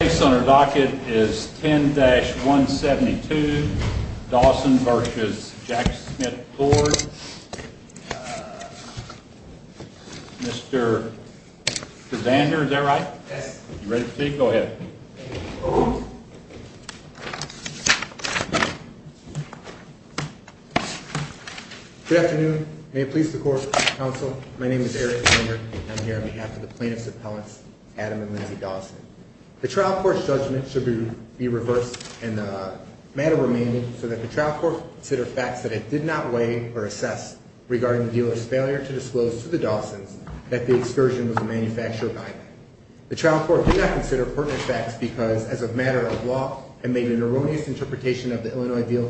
The case on our docket is 10-172 Dawson v. Jack Schmidt Ford. Mr. Cassander, is that right? Yes. You ready to speak? Go ahead. Good afternoon. May it please the Court, Counsel. My name is Eric Cassander. I'm here on behalf of the plaintiffs' appellants, Adam and Lindsay Dawson. The trial court's judgment should be reversed and the matter remained so that the trial court consider facts that it did not weigh or assess regarding the dealer's failure to disclose to the Dawsons that the excursion was a manufacturer-buyback. The trial court did not consider pertinent facts because, as a matter of law, it made an erroneous interpretation of the Illinois deal,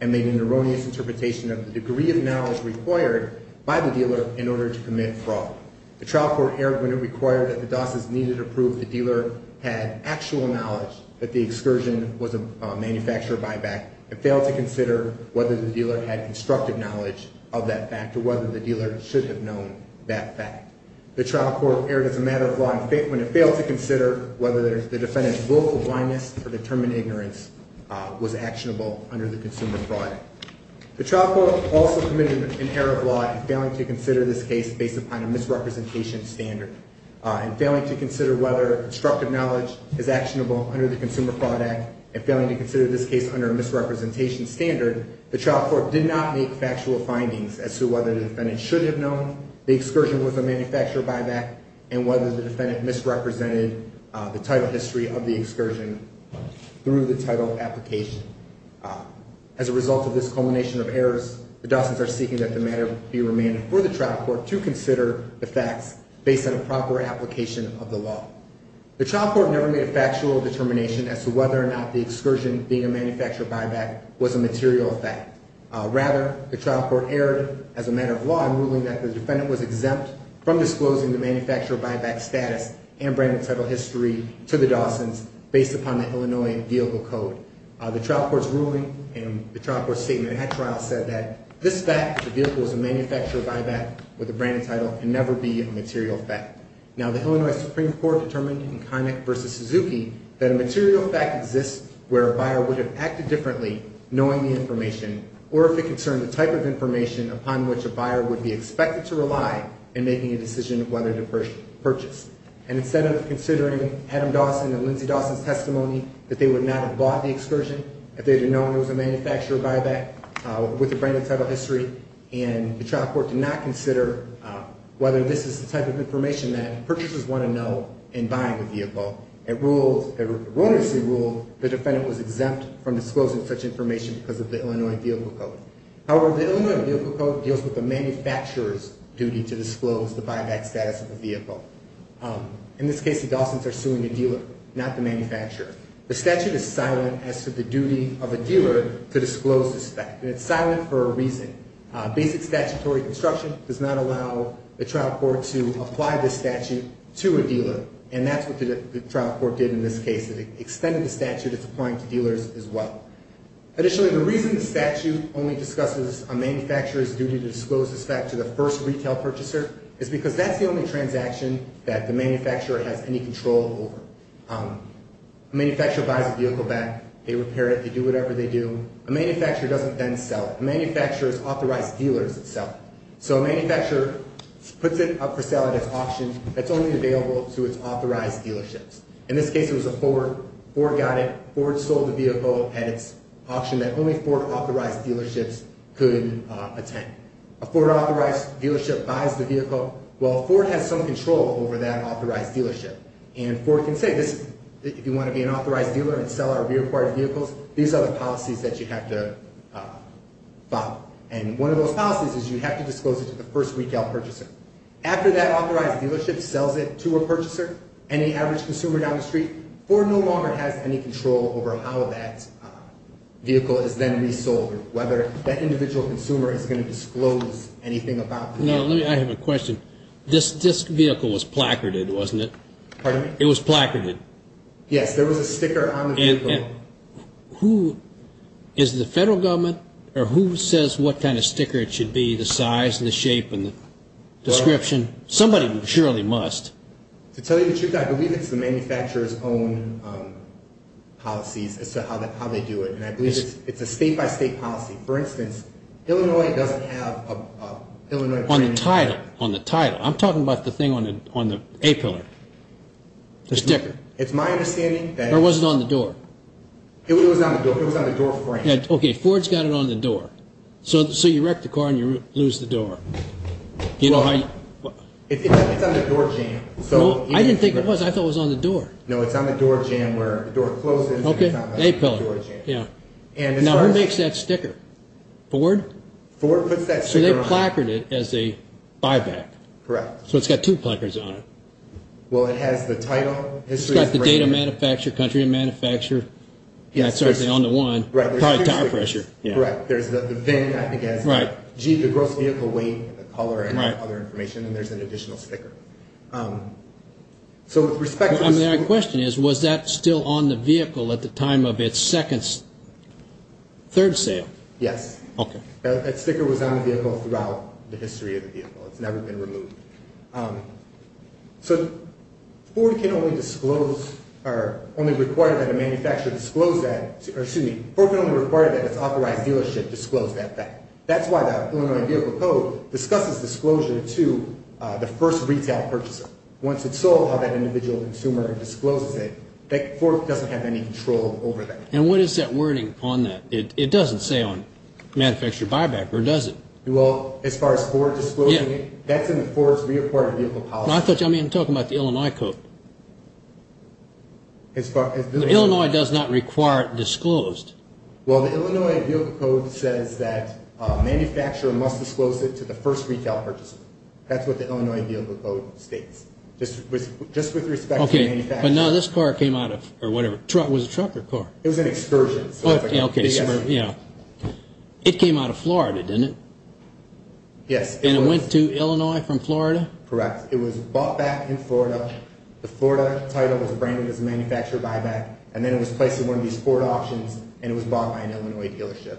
and made an erroneous interpretation of the degree of knowledge required by the dealer in order to commit fraud. The trial court erred when it required that the Dawsons needed to prove the dealer had actual knowledge that the excursion was a manufacturer-buyback and failed to consider whether the dealer had constructive knowledge of that fact or whether the dealer should have known that fact. The trial court erred as a matter of law when it failed to consider whether the defendant's willful blindness or determined ignorance was actionable under the consumer fraud. The trial court also committed an error of law in failing to consider this case based upon a misrepresentation standard. In failing to consider whether constructive knowledge is actionable under the Consumer Fraud Act, and failing to consider this case under a misrepresentation standard, the trial court did not make factual findings as to whether the defendant should have known the excursion was a manufacturer-buyback and whether the defendant misrepresented the title history of the excursion through the title application. As a result of this culmination of errors, the Dawsons are seeking that the matter be remanded for the trial court to consider the facts based on a proper application of the law. The trial court never made a factual determination as to whether or not the excursion being a manufacturer-buyback was a material fact. Rather, the trial court erred as a matter of law in ruling that the defendant was exempt from disclosing the manufacturer-buyback status and branded title history to the Dawsons based upon the Illinois Vehicle Code. The trial court's ruling and the trial court's statement at trial said that this fact, the vehicle was a manufacturer-buyback with a branded title, can never be a material fact. Now, the Illinois Supreme Court determined in Kymick v. Suzuki that a material fact exists where a buyer would have acted differently knowing the information or if it concerned the type of information upon which a buyer would be expected to rely in making a decision of whether to purchase. And instead of considering Adam Dawson and Lindsey Dawson's testimony that they would not have bought the excursion if they had known it was a manufacturer-buyback with a branded title history, and the trial court did not consider whether this is the type of information that purchasers want to know in buying a vehicle, it ruled, it erroneously ruled the defendant was exempt from disclosing such information because of the Illinois Vehicle Code. However, the Illinois Vehicle Code deals with the manufacturer's duty to disclose the buyback status of a vehicle. In this case, the Dawsons are suing a dealer, not the manufacturer. The statute is silent as to the duty of a dealer to disclose this fact, and it's silent for a reason. Basic statutory construction does not allow the trial court to apply this statute to a dealer, and that's what the trial court did in this case. It extended the statute. It's applying to dealers as well. Additionally, the reason the statute only discusses a manufacturer's duty to disclose this fact to the first retail purchaser is because that's the only transaction that the manufacturer has any control over. A manufacturer buys a vehicle back. They repair it. They do whatever they do. A manufacturer doesn't then sell it. A manufacturer is authorized dealers to sell it. So a manufacturer puts it up for sale at its auction that's only available to its authorized dealerships. In this case, it was a Ford. Ford got it. Ford sold the vehicle at its auction that only Ford authorized dealerships could attend. A Ford authorized dealership buys the vehicle. Well, Ford has some control over that authorized dealership, and Ford can say, if you want to be an authorized dealer and sell our reacquired vehicles, these are the policies that you have to follow, and one of those policies is you have to disclose it to the first retail purchaser. After that authorized dealership sells it to a purchaser, any average consumer down the street, Ford no longer has any control over how that vehicle is then resold or whether that individual consumer is going to disclose anything about the vehicle. Now, let me, I have a question. This vehicle was placarded, wasn't it? Pardon me? It was placarded. Yes, there was a sticker on the vehicle. Who, is it the federal government, or who says what kind of sticker it should be, the size and the shape and the description? Somebody surely must. To tell you the truth, I believe it's the manufacturer's own policies as to how they do it, and I believe it's a state-by-state policy. For instance, Illinois doesn't have a Illinois... On the title, on the title. I'm talking about the thing on the A-pillar, the sticker. It's my understanding that... Or was it on the door? It was on the door frame. Okay, Ford's got it on the door. So you wreck the car and you lose the door. It's on the door jamb. I didn't think it was. I thought it was on the door. No, it's on the door jamb where the door closes. Okay, A-pillar, yeah. Now, who makes that sticker? Ford? Ford puts that sticker on it. So they placarded it as a buyback. Correct. So it's got two placards on it. Well, it has the title, history... It's got the date of manufacture, country of manufacture. That's on the one. Right, there's two stickers. The VIN, I think, has the gross vehicle weight, the color, and all that other information, and there's an additional sticker. So with respect to... My question is, was that still on the vehicle at the time of its second... third sale? Yes. Okay. That sticker was on the vehicle throughout the history of the vehicle. It's never been removed. So Ford can only disclose or only require that a manufacturer disclose that... or, excuse me, Ford can only require that its authorized dealership disclose that fact. That's why the Illinois Vehicle Code discusses disclosure to the first retail purchaser. Once it's sold, how that individual consumer discloses it, Ford doesn't have any control over that. And what is that wording on that? It doesn't say on manufacture buyback, or does it? Well, as far as Ford disclosing it, that's in the Ford's reacquired vehicle policy. I mean, I'm talking about the Illinois Code. The Illinois does not require it disclosed. Well, the Illinois Vehicle Code says that a manufacturer must disclose it to the first retail purchaser. That's what the Illinois Vehicle Code states. Okay. But now this car came out of... or whatever. Was it a truck or car? It was an excursion. Okay. Yeah. It came out of Florida, didn't it? Yes. And it went to Illinois from Florida? Correct. It was bought back in Florida. The Florida title was branded as a manufacturer buyback, and then it was placed in one of these Ford options, and it was bought by an Illinois dealership.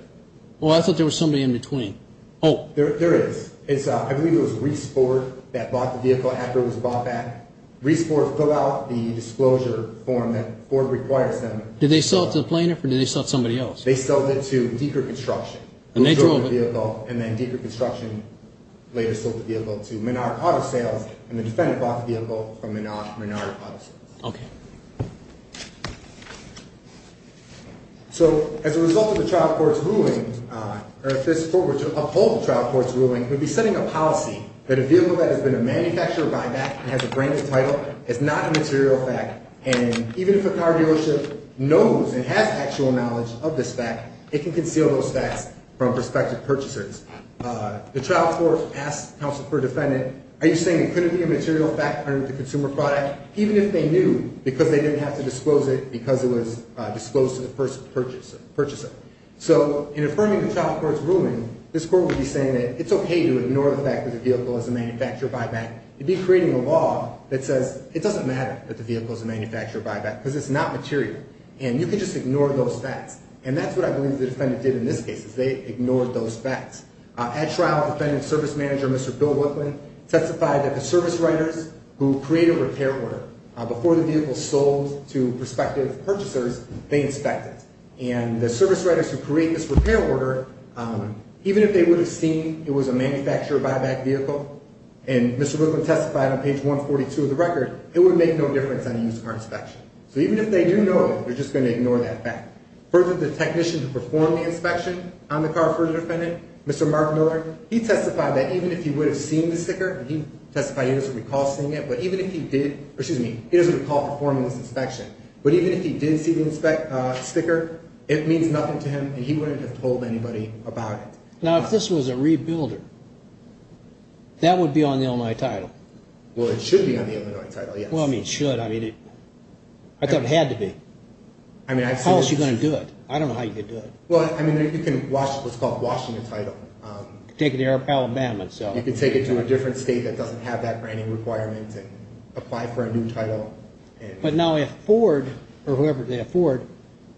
Well, I thought there was somebody in between. There is. I believe it was Reese Ford that bought the vehicle after it was bought back. Reese Ford filled out the disclosure form that Ford requires them. Did they sell it to the plaintiff, or did they sell it to somebody else? They sold it to Deeker Construction, who drove the vehicle, and then Deeker Construction later sold the vehicle to Minard Auto Sales, and the defendant bought the vehicle from Minard Auto Sales. Okay. So as a result of the trial court's ruling, or if this court were to uphold the trial court's ruling, we'd be setting a policy that a vehicle that has been a manufacturer buyback and has a branded title is not a material fact, and even if a car dealership knows and has actual knowledge of this fact, it can conceal those facts from prospective purchasers. The trial court asked counsel for a defendant, are you saying it couldn't be a material fact under the consumer product, even if they knew because they didn't have to disclose it because it was disclosed to the first purchaser. So in affirming the trial court's ruling, this court would be saying that it's okay to ignore the fact that the vehicle is a manufacturer buyback. You'd be creating a law that says it doesn't matter that the vehicle is a manufacturer buyback because it's not material, and you can just ignore those facts, and that's what I believe the defendant did in this case, is they ignored those facts. At trial, the defendant's service manager, Mr. Bill Whitman, testified that the service writers who create a repair order before the vehicle sold to prospective purchasers, they inspect it, and the service writers who create this repair order, even if they would have seen it was a manufacturer buyback vehicle, and Mr. Whitman testified on page 142 of the record, it would make no difference on a used car inspection. So even if they do know it, they're just going to ignore that fact. Further, the technician who performed the inspection on the car for the defendant, Mr. Mark Miller, he testified that even if he would have seen the sticker, he testified he doesn't recall seeing it, but even if he did, or excuse me, he doesn't recall performing this inspection, but even if he did see the sticker, it means nothing to him, and he wouldn't have told anybody about it. Now, if this was a rebuilder, that would be on the Illinois title. Well, it should be on the Illinois title, yes. Well, I mean, it should. I mean, I thought it had to be. I mean, I've seen it. How else are you going to do it? I don't know how you could do it. Well, I mean, you can wash what's called washing the title. Take it to Alabama. You can take it to a different state that doesn't have that branding requirement and apply for a new title. But now if Ford, or whoever they have Ford,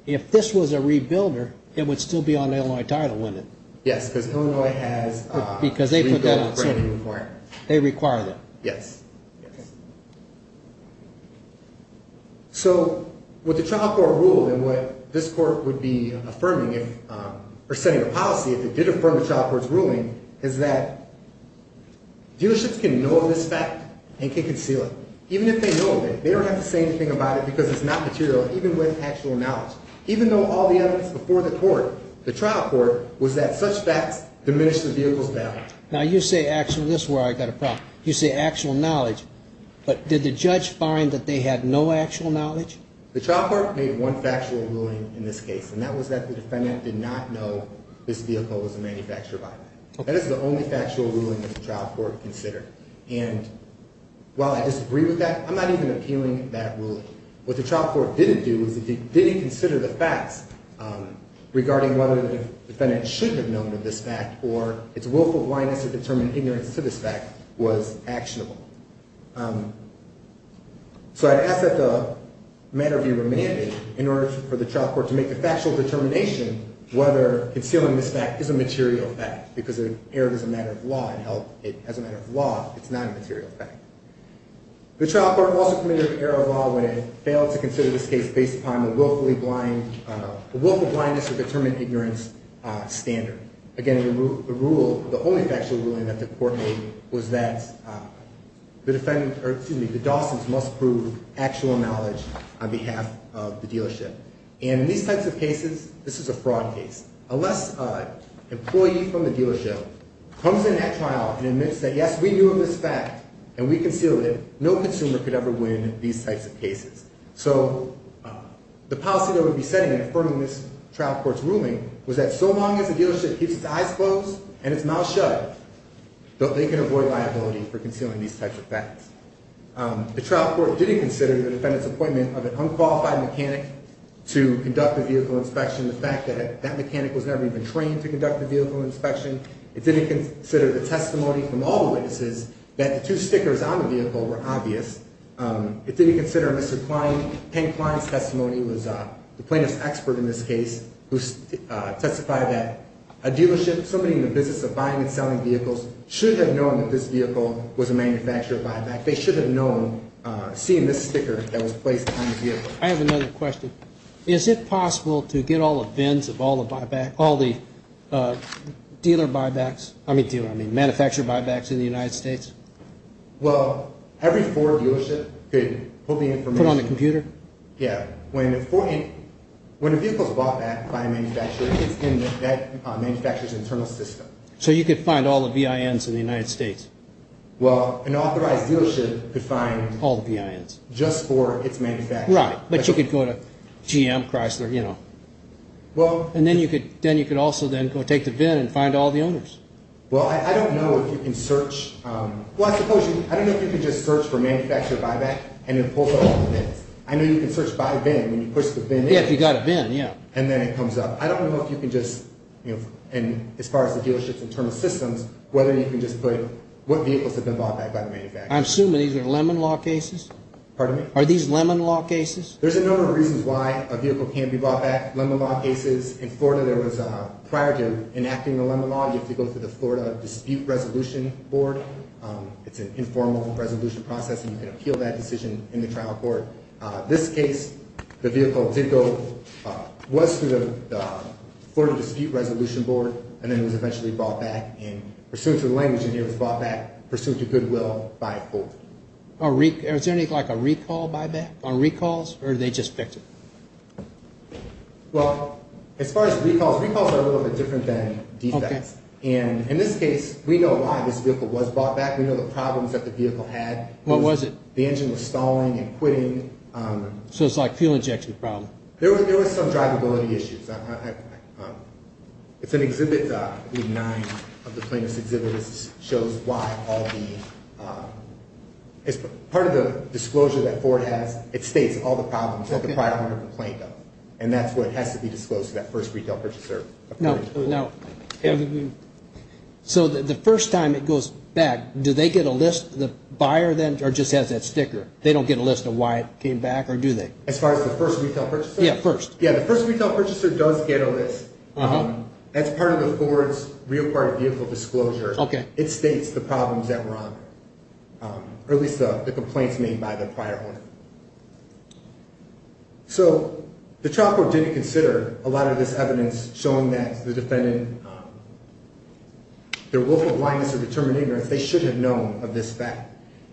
if this was a rebuilder, it would still be on the Illinois title, wouldn't it? Yes, because Illinois has a rebuild branding requirement. They require that. Yes. So what the trial court ruled, and what this court would be affirming, or setting a policy if it did affirm the trial court's ruling, is that dealerships can know this fact and can conceal it. Even if they know it, they don't have to say anything about it because it's not material, even with actual knowledge. Even though all the evidence before the court, the trial court, was that such facts diminish the vehicle's value. Now, you say actual, this is where I've got a problem. You say actual knowledge. But did the judge find that they had no actual knowledge? The trial court made one factual ruling in this case, and that was that the defendant did not know this vehicle was a manufacturer by name. That is the only factual ruling that the trial court considered. And while I disagree with that, I'm not even appealing that ruling. What the trial court didn't do is it didn't consider the facts regarding whether the defendant should have known of this fact or its willful blindness or determined ignorance to this fact was actionable. So I'd ask that the matter be remanded in order for the trial court to make the factual determination whether concealing this fact is a material fact because an error is a matter of law. As a matter of law, it's not a material fact. The trial court also committed an error of law when it failed to consider this case based upon the willful blindness or determined ignorance standard. Again, the rule, the only factual ruling that the court made was that the defendant or excuse me, the Dawson's must prove actual knowledge on behalf of the dealership. And in these types of cases, this is a fraud case. Unless an employee from the dealership comes in at trial and admits that, yes, we knew of this fact and we concealed it, no consumer could ever win these types of cases. So the policy that would be setting and affirming this trial court's ruling was that so long as the dealership keeps its eyes closed and its mouth shut, they can avoid liability for concealing these types of facts. The trial court didn't consider the defendant's appointment of an unqualified mechanic to conduct the vehicle inspection, the fact that that mechanic was never even trained to conduct the vehicle inspection. It didn't consider the testimony from all the witnesses that the two stickers on the vehicle were obvious. It didn't consider Mr. Klein, Hank Klein's testimony, who was the plaintiff's expert in this case, who testified that a dealership, somebody in the business of buying and selling vehicles, should have known that this vehicle was a manufacturer buyback. They should have known seeing this sticker that was placed on the vehicle. I have another question. Is it possible to get all the bins of all the dealer buybacks, I mean manufacturer buybacks in the United States? Well, every Ford dealership could put the information. Put on the computer? Yeah. When a vehicle is bought back by a manufacturer, it's in that manufacturer's internal system. So you could find all the VINs in the United States? Well, an authorized dealership could find all the VINs just for its manufacturer. Right, but you could go to GM, Chrysler, you know. And then you could also then go take the bin and find all the owners. Well, I don't know if you can search. I don't know if you can just search for manufacturer buyback and then pull up all the bins. I know you can search by VIN when you push the VIN in. Yeah, if you've got a VIN, yeah. And then it comes up. I don't know if you can just, you know, as far as the dealership's internal systems, whether you can just put what vehicles have been bought back by the manufacturer. I'm assuming these are Lemon Law cases. Pardon me? Are these Lemon Law cases? There's a number of reasons why a vehicle can't be bought back. Lemon Law cases. In Florida there was, prior to enacting the Lemon Law, you have to go through the Florida Dispute Resolution Board. It's an informal resolution process, and you can appeal that decision in the trial court. This case, the vehicle did go, was through the Florida Dispute Resolution Board, and then it was eventually bought back in, pursuant to the language in here, it was bought back, pursuant to goodwill, by both. Is there any, like, a recall buyback on recalls, or are they just victim? Well, as far as recalls, recalls are a little bit different than defects. Okay. And in this case, we know why this vehicle was bought back. We know the problems that the vehicle had. What was it? The engine was stalling and quitting. So it's like fuel injection problem. There was some drivability issues. It's in Exhibit 8-9 of the plaintiff's exhibit. It shows why all the, as part of the disclosure that Ford has, it states all the problems that the prior owner complained of, and that's what has to be disclosed to that first retail purchaser. No, no. So the first time it goes back, do they get a list, the buyer then, or just has that sticker? They don't get a list of why it came back, or do they? As far as the first retail purchaser? Yeah, first. Yeah, the first retail purchaser does get a list. That's part of the Ford's real part of vehicle disclosure. Okay. It states the problems that were on it, or at least the complaints made by the prior owner. So the trial court didn't consider a lot of this evidence showing that the defendant, their willful blindness or determined ignorance, they should have known of this fact.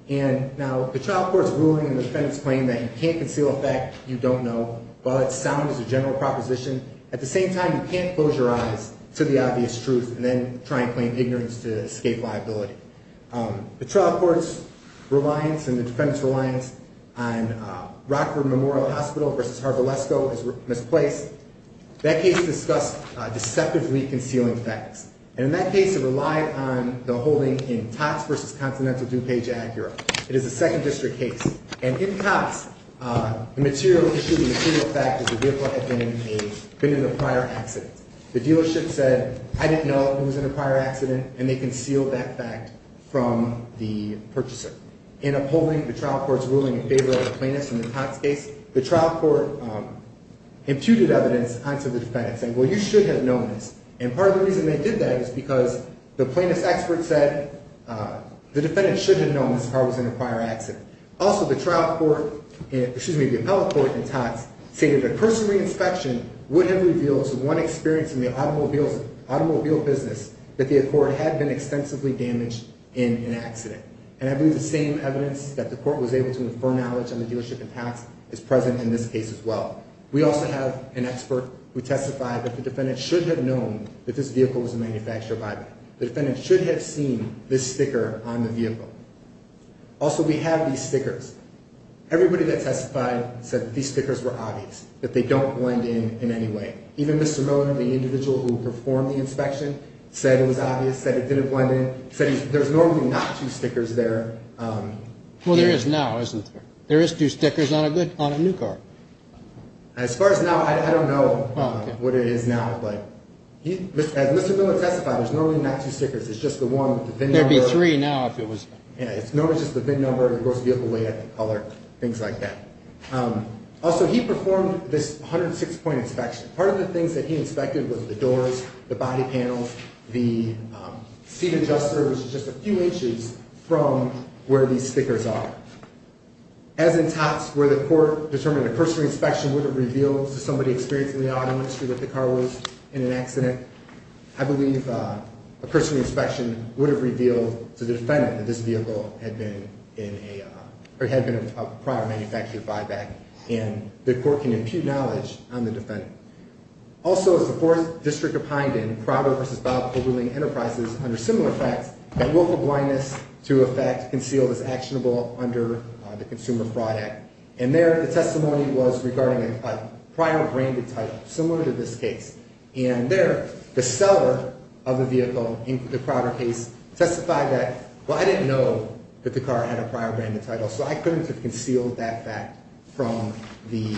And now the trial court is ruling in the defendant's claim that you can't conceal a fact you don't know. While it sounds as a general proposition, at the same time you can't close your eyes to the obvious truth and then try and claim ignorance to escape liability. The trial court's reliance and the defendant's reliance on Rockford Memorial Hospital versus Harvillesco is misplaced. That case discussed deceptively concealing facts. And in that case it relied on the holding in Tots versus Continental DuPage Acura. It is a second district case. And in Tots, the material issue, the material fact is the vehicle had been in a prior accident. The dealership said, I didn't know it was in a prior accident, and they concealed that fact from the purchaser. In upholding the trial court's ruling in favor of the plaintiff in the Tots case, the trial court imputed evidence onto the defendant, saying, well, you should have known this. And part of the reason they did that is because the plaintiff's expert said the defendant should have known this car was in a prior accident. Also, the trial court, excuse me, the appellate court in Tots, stated the cursory inspection would have revealed one experience in the automobile business that the Accord had been extensively damaged in an accident. And I believe the same evidence that the court was able to infer knowledge on the dealership in Tots is present in this case as well. We also have an expert who testified that the defendant should have known that this vehicle was manufactured by them. The defendant should have seen this sticker on the vehicle. Also, we have these stickers. Everybody that testified said that these stickers were obvious, that they don't blend in in any way. Even Mr. Miller, the individual who performed the inspection, said it was obvious, said it didn't blend in, said there's normally not two stickers there. Well, there is now, isn't there? There is two stickers on a new car. As far as now, I don't know what it is now. As Mr. Miller testified, there's normally not two stickers. It's just the one with the VIN number. There would be three now if it was. And it's known as just the VIN number, the gross vehicle weight, the color, things like that. Also, he performed this 106-point inspection. Part of the things that he inspected was the doors, the body panels, the seat adjuster, which is just a few inches from where these stickers are. As in Tots, where the court determined a cursory inspection would have revealed to somebody experiencing the auto injury that the car was in an accident, I believe a cursory inspection would have revealed to the defendant that this vehicle had been a prior manufactured buyback, and the court can impute knowledge on the defendant. Also, as the 4th District opined in Crowder v. Bob Kogeling Enterprises, under similar facts, that willful blindness to effect concealed is actionable under the Consumer Fraud Act. And there, the testimony was regarding a prior branded type, similar to this case. And there, the seller of the vehicle in the Crowder case testified that, well, I didn't know that the car had a prior branded title, so I couldn't have concealed that fact from the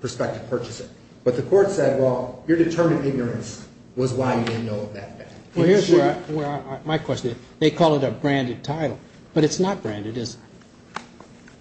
prospective purchaser. But the court said, well, your determined ignorance was why you didn't know of that fact. Well, here's where my question is. They call it a branded title, but it's not branded.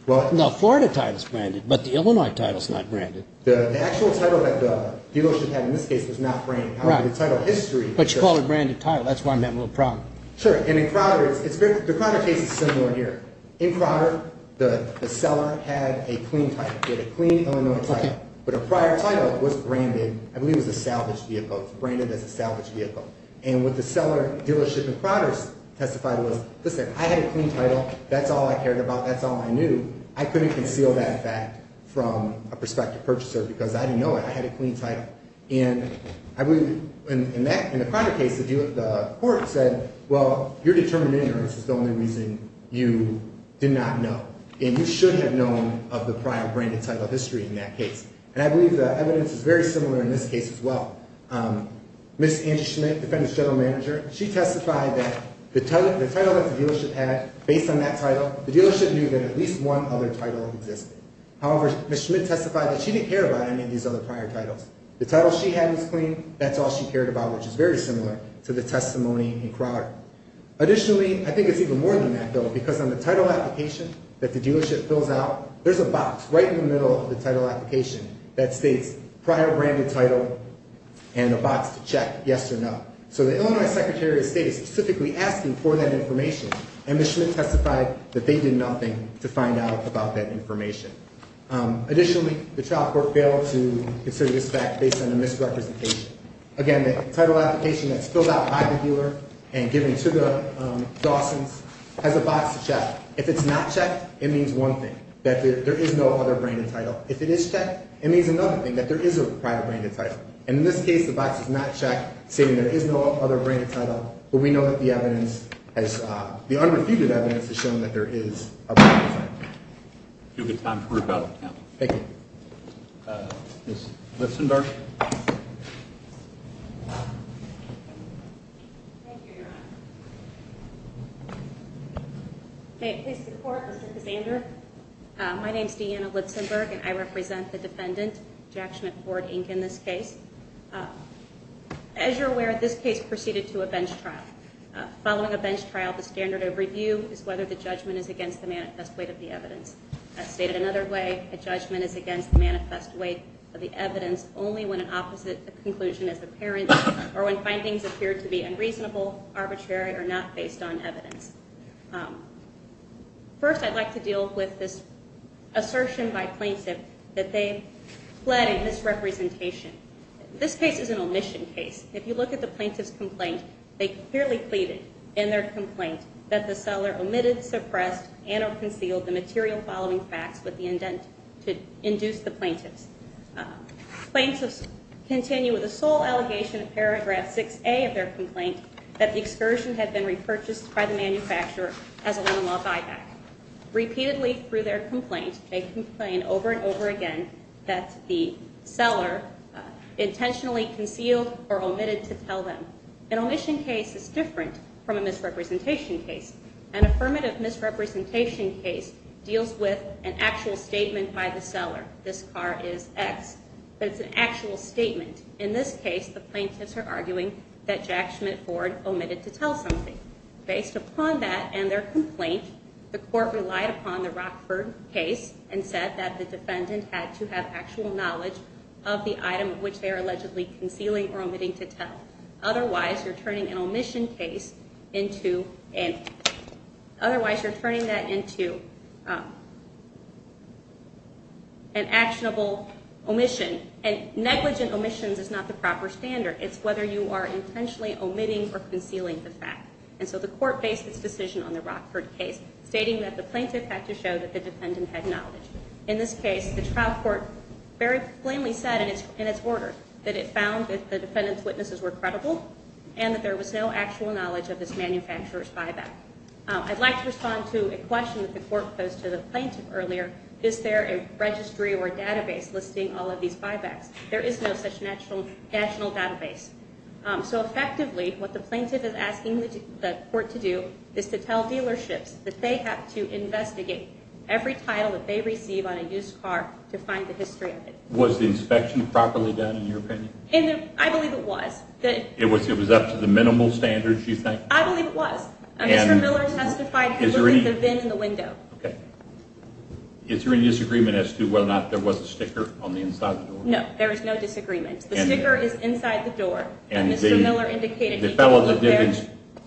The Florida title is branded, but the Illinois title is not branded. The actual title that the dealership had in this case was not branded. However, the title history... But you call it a branded title. That's why I'm having a little problem. Sure. And in Crowder, it's very... The Crowder case is similar here. In Crowder, the seller had a clean type, had a clean Illinois title. But a prior title was branded. I believe it was a salvaged vehicle. It was branded as a salvaged vehicle. And what the seller, dealership in Crowder testified was, listen, I had a clean title. That's all I cared about. That's all I knew. I couldn't conceal that fact from a prospective purchaser because I didn't know it. I had a clean title. And I believe in the Crowder case, the court said, well, you're determining, or this is the only reason you did not know. And you should have known of the prior branded title history in that case. And I believe the evidence is very similar in this case as well. Ms. Angie Schmidt, defendant's general manager, she testified that the title that the dealership had, based on that title, the dealership knew that at least one other title existed. However, Ms. Schmidt testified that she didn't care about any of these other prior titles. The title she had was clean. That's all she cared about, which is very similar to the testimony in Crowder. Additionally, I think it's even more than that, though, because on the title application that the dealership fills out, there's a box right in the middle of the title application that states prior branded title and a box to check yes or no. So the Illinois Secretary of State is specifically asking for that information, and Ms. Schmidt testified that they did nothing to find out about that information. Additionally, the trial court failed to consider this fact based on a misrepresentation. Again, the title application that's filled out by the dealer and given to the Dawson's has a box to check. If it's not checked, it means one thing, that there is no other branded title. If it is checked, it means another thing, that there is a prior branded title. And in this case, the box is not checked, saying there is no other branded title, but we know that the evidence has, the unrefuted evidence has shown that there is a prior branded title. You'll get time for rebuttal now. Thank you. Ms. Lipsenberg. Thank you, Your Honor. May it please the Court, Mr. Cassander. My name is Deanna Lipsenberg, and I represent the defendant, Jack Schmidt Ford, Inc., in this case. As you're aware, this case proceeded to a bench trial. Following a bench trial, the standard of review is whether the judgment is against the manifest weight of the evidence. As stated another way, a judgment is against the manifest weight of the evidence only when an opposite conclusion is apparent or when findings appear to be unreasonable, arbitrary, or not based on evidence. First, I'd like to deal with this assertion by plaintiff that they fled a misrepresentation. This case is an omission case. If you look at the plaintiff's complaint, they clearly pleaded in their complaint and or concealed the material following facts with the indent to induce the plaintiff's. Plaintiffs continue with a sole allegation of paragraph 6A of their complaint that the excursion had been repurchased by the manufacturer as a one-off buyback. Repeatedly through their complaint, they complain over and over again that the seller intentionally concealed or omitted to tell them. An omission case is different from a misrepresentation case. An affirmative misrepresentation case deals with an actual statement by the seller. This car is X. It's an actual statement. In this case, the plaintiffs are arguing that Jack Schmidt Ford omitted to tell something. Based upon that and their complaint, the court relied upon the Rockford case and said that the defendant had to have actual knowledge of the item of which they are allegedly concealing or omitting to tell. Otherwise, you're turning an omission case into an act. Otherwise, you're turning that into an actionable omission. And negligent omissions is not the proper standard. It's whether you are intentionally omitting or concealing the fact. And so the court based its decision on the Rockford case, stating that the plaintiff had to show that the defendant had knowledge. In this case, the trial court very plainly said in its order that it found that the defendant's witnesses were credible and that there was no actual knowledge of this manufacturer's buyback. I'd like to respond to a question that the court posed to the plaintiff earlier. Is there a registry or a database listing all of these buybacks? There is no such national database. So effectively, what the plaintiff is asking the court to do is to tell dealerships that they have to investigate every title that they receive on a used car to find the history of it. Was the inspection properly done in your opinion? I believe it was. It was up to the minimal standards, you think? I believe it was. Mr. Miller testified he looked at the VIN in the window. Okay. Is there any disagreement as to whether or not there was a sticker on the inside of the door? No, there is no disagreement. The sticker is inside the door. And Mr. Miller indicated he didn't look there. The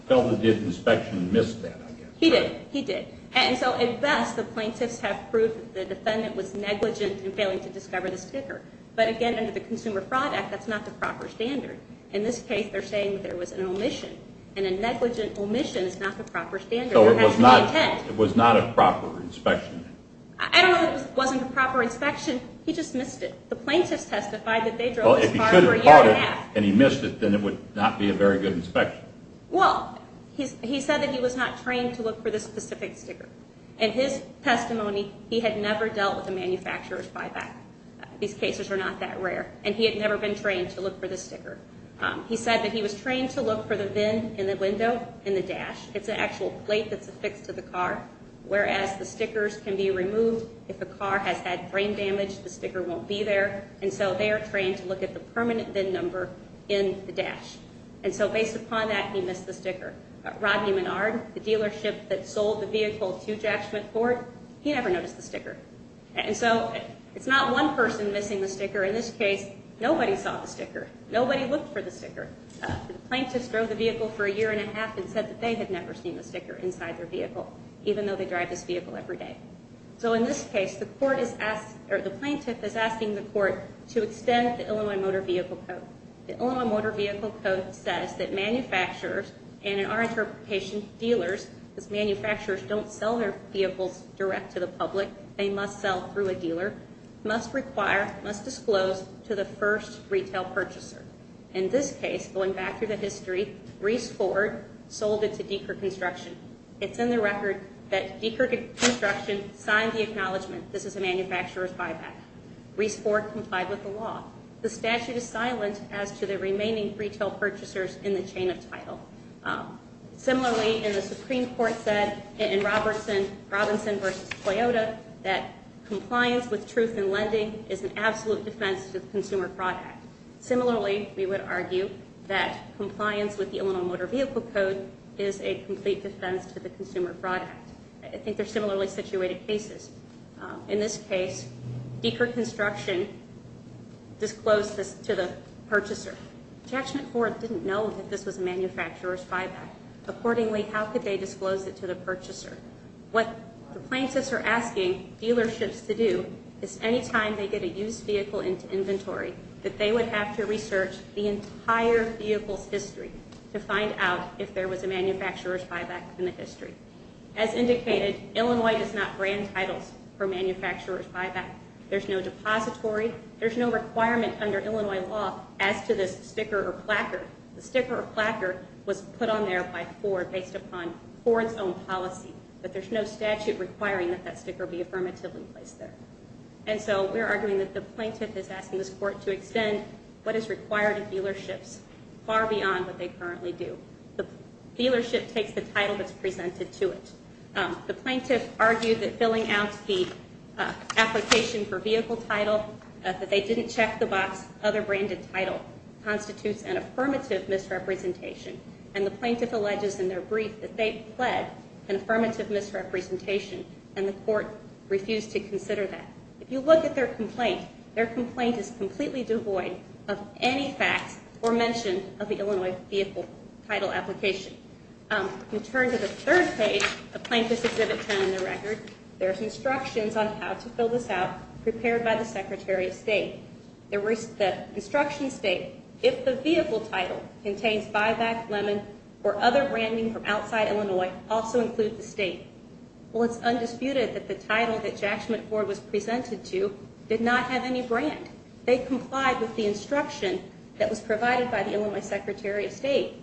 fellow that did the inspection missed that, I guess. He did. And so at best, the plaintiffs have proved that the defendant was negligent in failing to discover the sticker. But again, under the Consumer Fraud Act, that's not the proper standard. In this case, they're saying there was an omission. And a negligent omission is not the proper standard. It has no intent. So it was not a proper inspection? I don't know if it wasn't a proper inspection. He just missed it. The plaintiffs testified that they drove this car for a year and a half. Well, if he should have caught it and he missed it, then it would not be a very good inspection. Well, he said that he was not trained to look for the specific sticker. In his testimony, he had never dealt with a manufacturer's buyback. These cases are not that rare. And he had never been trained to look for the sticker. He said that he was trained to look for the VIN in the window in the dash. It's an actual plate that's affixed to the car, whereas the stickers can be removed. If the car has had frame damage, the sticker won't be there. And so they are trained to look at the permanent VIN number in the dash. And so based upon that, he missed the sticker. Rodney Menard, the dealership that sold the vehicle to Jax-McCord, he never noticed the sticker. And so it's not one person missing the sticker. In this case, nobody saw the sticker. Nobody looked for the sticker. The plaintiffs drove the vehicle for a year and a half and said that they had never seen the sticker inside their vehicle, even though they drive this vehicle every day. So in this case, the plaintiff is asking the court to extend the Illinois Motor Vehicle Code. The Illinois Motor Vehicle Code says that manufacturers, and in our interpretation, dealers, because manufacturers don't sell their vehicles direct to the public, they must sell through a dealer, must require, must disclose, to the first retail purchaser. In this case, going back through the history, Reese Ford sold it to Deeker Construction. It's in the record that Deeker Construction signed the acknowledgement this is a manufacturer's buyback. Reese Ford complied with the law. The statute is silent as to the remaining retail purchasers in the chain of title. Similarly, in the Supreme Court said, in Robinson v. Toyota, that compliance with truth in lending is an absolute defense to the consumer product. Similarly, we would argue that compliance with the Illinois Motor Vehicle Code is a complete defense to the consumer product. I think they're similarly situated cases. In this case, Deeker Construction disclosed this to the purchaser. Detachment 4 didn't know that this was a manufacturer's buyback. Accordingly, how could they disclose it to the purchaser? What the plaintiffs are asking dealerships to do is anytime they get a used vehicle into inventory, that they would have to research the entire vehicle's history to find out if there was a manufacturer's buyback in the history. As indicated, Illinois does not brand titles for manufacturer's buyback. There's no depository. The sticker or placard was put on there by Ford based upon Ford's own policy, but there's no statute requiring that that sticker be affirmatively placed there. And so we're arguing that the plaintiff is asking this court to extend what is required of dealerships far beyond what they currently do. The dealership takes the title that's presented to it. The plaintiff argued that filling out the application for vehicle title, that they didn't check the box, other branded title, constitutes an affirmative misrepresentation, and the plaintiff alleges in their brief that they pled an affirmative misrepresentation, and the court refused to consider that. If you look at their complaint, their complaint is completely devoid of any facts or mention of the Illinois vehicle title application. You turn to the third page of Plaintiff's Exhibit 10 in the record. There's instructions on how to fill this out prepared by the Secretary of State. The instruction state, if the vehicle title contains buyback, lemon, or other branding from outside Illinois, also include the state. Well, it's undisputed that the title that Jack Schmidt Ford was presented to did not have any brand. They complied with the instruction that was provided by the Illinois Secretary of State.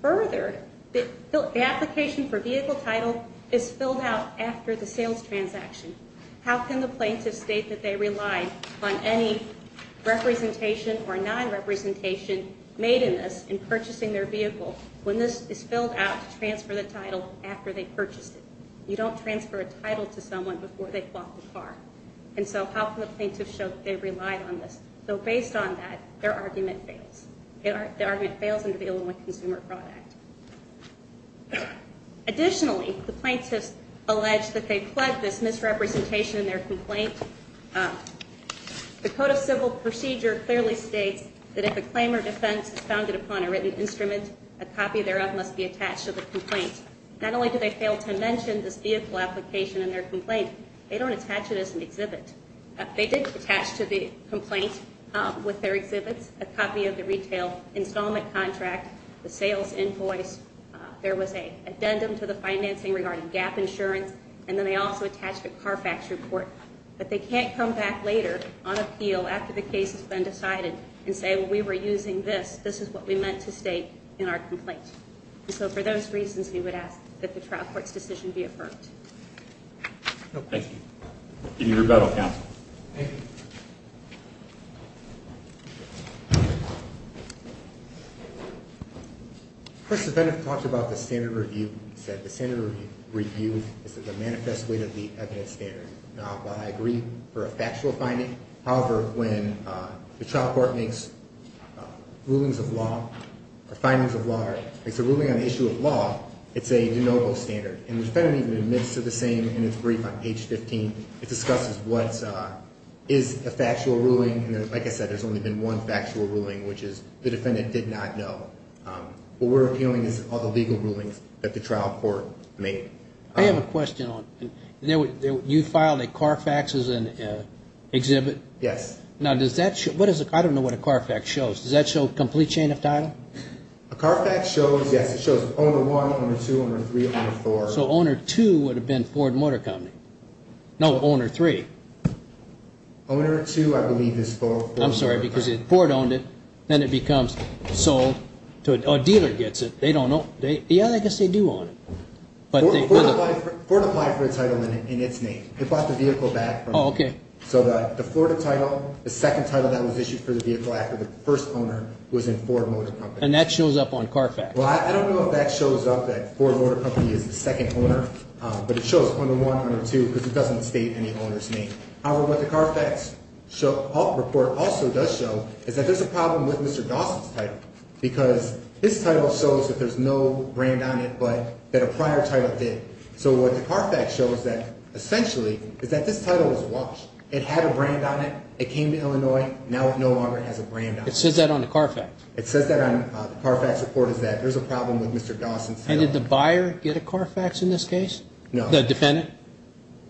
Further, the application for vehicle title is filled out after the sales transaction. How can the plaintiff state that they relied on any representation or non-representation made in this in purchasing their vehicle when this is filled out to transfer the title after they purchased it? You don't transfer a title to someone before they bought the car. And so how can the plaintiff show that they relied on this? So based on that, their argument fails. Their argument fails under the Illinois Consumer Fraud Act. Additionally, the plaintiffs allege that they plugged this misrepresentation in their complaint. The Code of Civil Procedure clearly states that if a claim or defense is founded upon a written instrument, a copy thereof must be attached to the complaint. Not only do they fail to mention this vehicle application in their complaint, they don't attach it as an exhibit. They did attach to the complaint with their exhibits a copy of the retail installment contract, the sales invoice. There was an addendum to the financing regarding gap insurance. And then they also attached a car fax report. But they can't come back later on appeal after the case has been decided and say, well, we were using this. This is what we meant to state in our complaint. And so for those reasons, we would ask that the trial court's decision be affirmed. Thank you. I give you rebuttal, counsel. Thank you. The first defendant talked about the standard review. He said the standard review is the manifest way to the evidence standard. Now, while I agree for a factual finding, however, when the trial court makes rulings of law or findings of law or makes a ruling on the issue of law, it's a de novo standard. And the defendant even admits to the same in his brief on page 15. It discusses what is a factual ruling. And then, like I said, there's only been one factual ruling, which is the defendant did not know. What we're appealing is all the legal rulings that the trial court made. I have a question. You filed a car fax as an exhibit? Yes. Now, does that show? I don't know what a car fax shows. Does that show complete chain of title? A car fax shows, yes, it shows owner one, owner two, owner three, owner four. So owner two would have been Ford Motor Company. No, owner three. Owner two, I believe, is Ford Motor Company. I'm sorry, because Ford owned it. Then it becomes sold. A dealer gets it. They don't know. Yeah, I guess they do own it. Ford applied for the title in its name. They bought the vehicle back. Oh, okay. So the second title that was issued for the vehicle after the first owner was in Ford Motor Company. And that shows up on car fax. Well, I don't know if that shows up, that Ford Motor Company is the second owner. But it shows owner one, owner two, because it doesn't state any owner's name. However, what the car fax report also does show is that there's a problem with Mr. Dawson's title. Because his title shows that there's no brand on it, but that a prior title did. So what the car fax shows, essentially, is that this title was washed. It had a brand on it. It came to Illinois. Now it no longer has a brand on it. It says that on the car fax. It says that on the car fax report is that there's a problem with Mr. Dawson's title. And did the buyer get a car fax in this case? No. The defendant?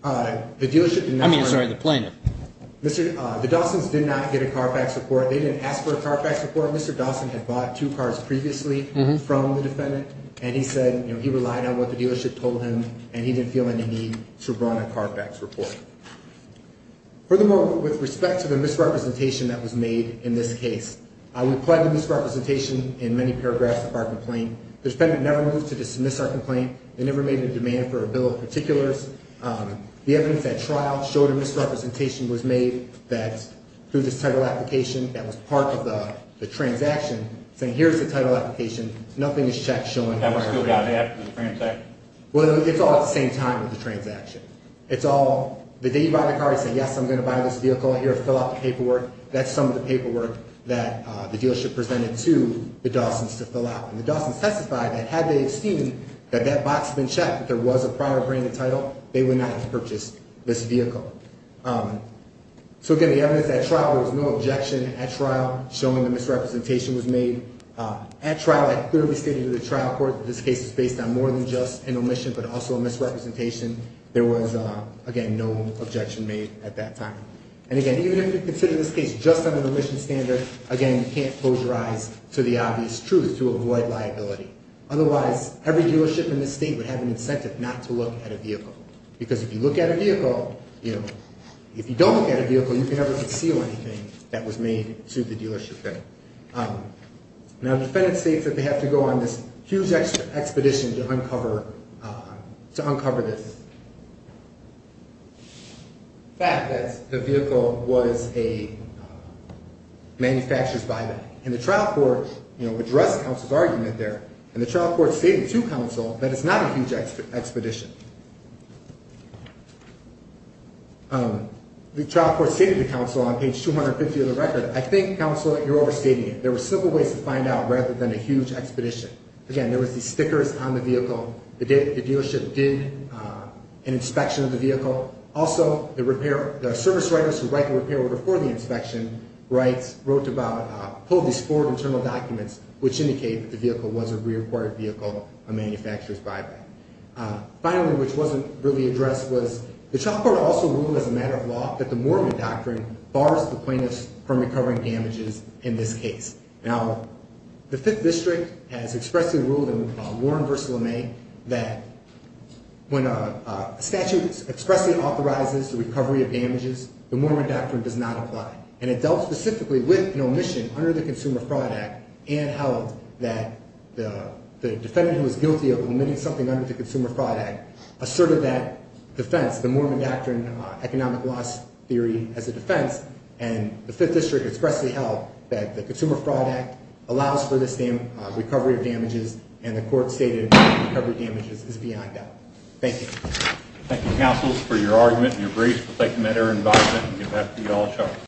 The dealership did not. I mean, sorry, the plaintiff. The Dawsons did not get a car fax report. They didn't ask for a car fax report. Mr. Dawson had bought two cars previously from the defendant. And he said he relied on what the dealership told him, and he didn't feel any need to run a car fax report. Furthermore, with respect to the misrepresentation that was made in this case, I would point to misrepresentation in many paragraphs of our complaint. The defendant never moved to dismiss our complaint. They never made a demand for a bill of particulars. The evidence at trial showed a misrepresentation was made that, through this title application, that was part of the transaction, saying, here's the title application. Nothing is checked showing where it was made. That was still done after the transaction? Well, it's all at the same time of the transaction. It's all the day you buy the car, you say, yes, I'm going to buy this vehicle. Here, fill out the paperwork. That's some of the paperwork that the dealership presented to the Dawsons to fill out. And the Dawsons testified that, had they seen that that box had been checked, that there was a prior branded title, they would not have purchased this vehicle. So, again, the evidence at trial, there was no objection at trial showing the misrepresentation was made. At trial, I clearly stated to the trial court that this case is based on more than just an omission, but also a misrepresentation. There was, again, no objection made at that time. And, again, even if you consider this case just on an omission standard, again, you can't close your eyes to the obvious truth to avoid liability. Otherwise, every dealership in this state would have an incentive not to look at a vehicle. Because if you look at a vehicle, you know, if you don't look at a vehicle, you can never conceal anything that was made to the dealership there. Now, the defendant states that they have to go on this huge expedition to uncover this. The fact that the vehicle was a manufacturer's buyback. And the trial court, you know, addressed counsel's argument there. And the trial court stated to counsel that it's not a huge expedition. The trial court stated to counsel on page 250 of the record, I think, counsel, you're overstating it. There were simple ways to find out rather than a huge expedition. Again, there was these stickers on the vehicle. The dealership did an inspection of the vehicle. Also, the repair, the service writers who write the repair order for the inspection writes, wrote about, pulled these forward internal documents, which indicate that the vehicle was a reacquired vehicle, a manufacturer's buyback. Finally, which wasn't really addressed was the trial court also ruled as a matter of law that the Mormon Doctrine bars the plaintiffs from recovering damages in this case. Now, the Fifth District has expressly ruled in Warren v. LeMay that when a statute expressly authorizes the recovery of damages, the Mormon Doctrine does not apply. And it dealt specifically with an omission under the Consumer Fraud Act and held that the defendant who was guilty of omitting something under the Consumer Fraud Act asserted that defense, the Mormon Doctrine economic loss theory as a defense. And the Fifth District expressly held that the Consumer Fraud Act allows for this recovery of damages and the court stated recovery of damages is beyond doubt. Thank you. Thank you, counsels, for your argument and your briefs. We'll take them at our invitement and give back to you all shortly.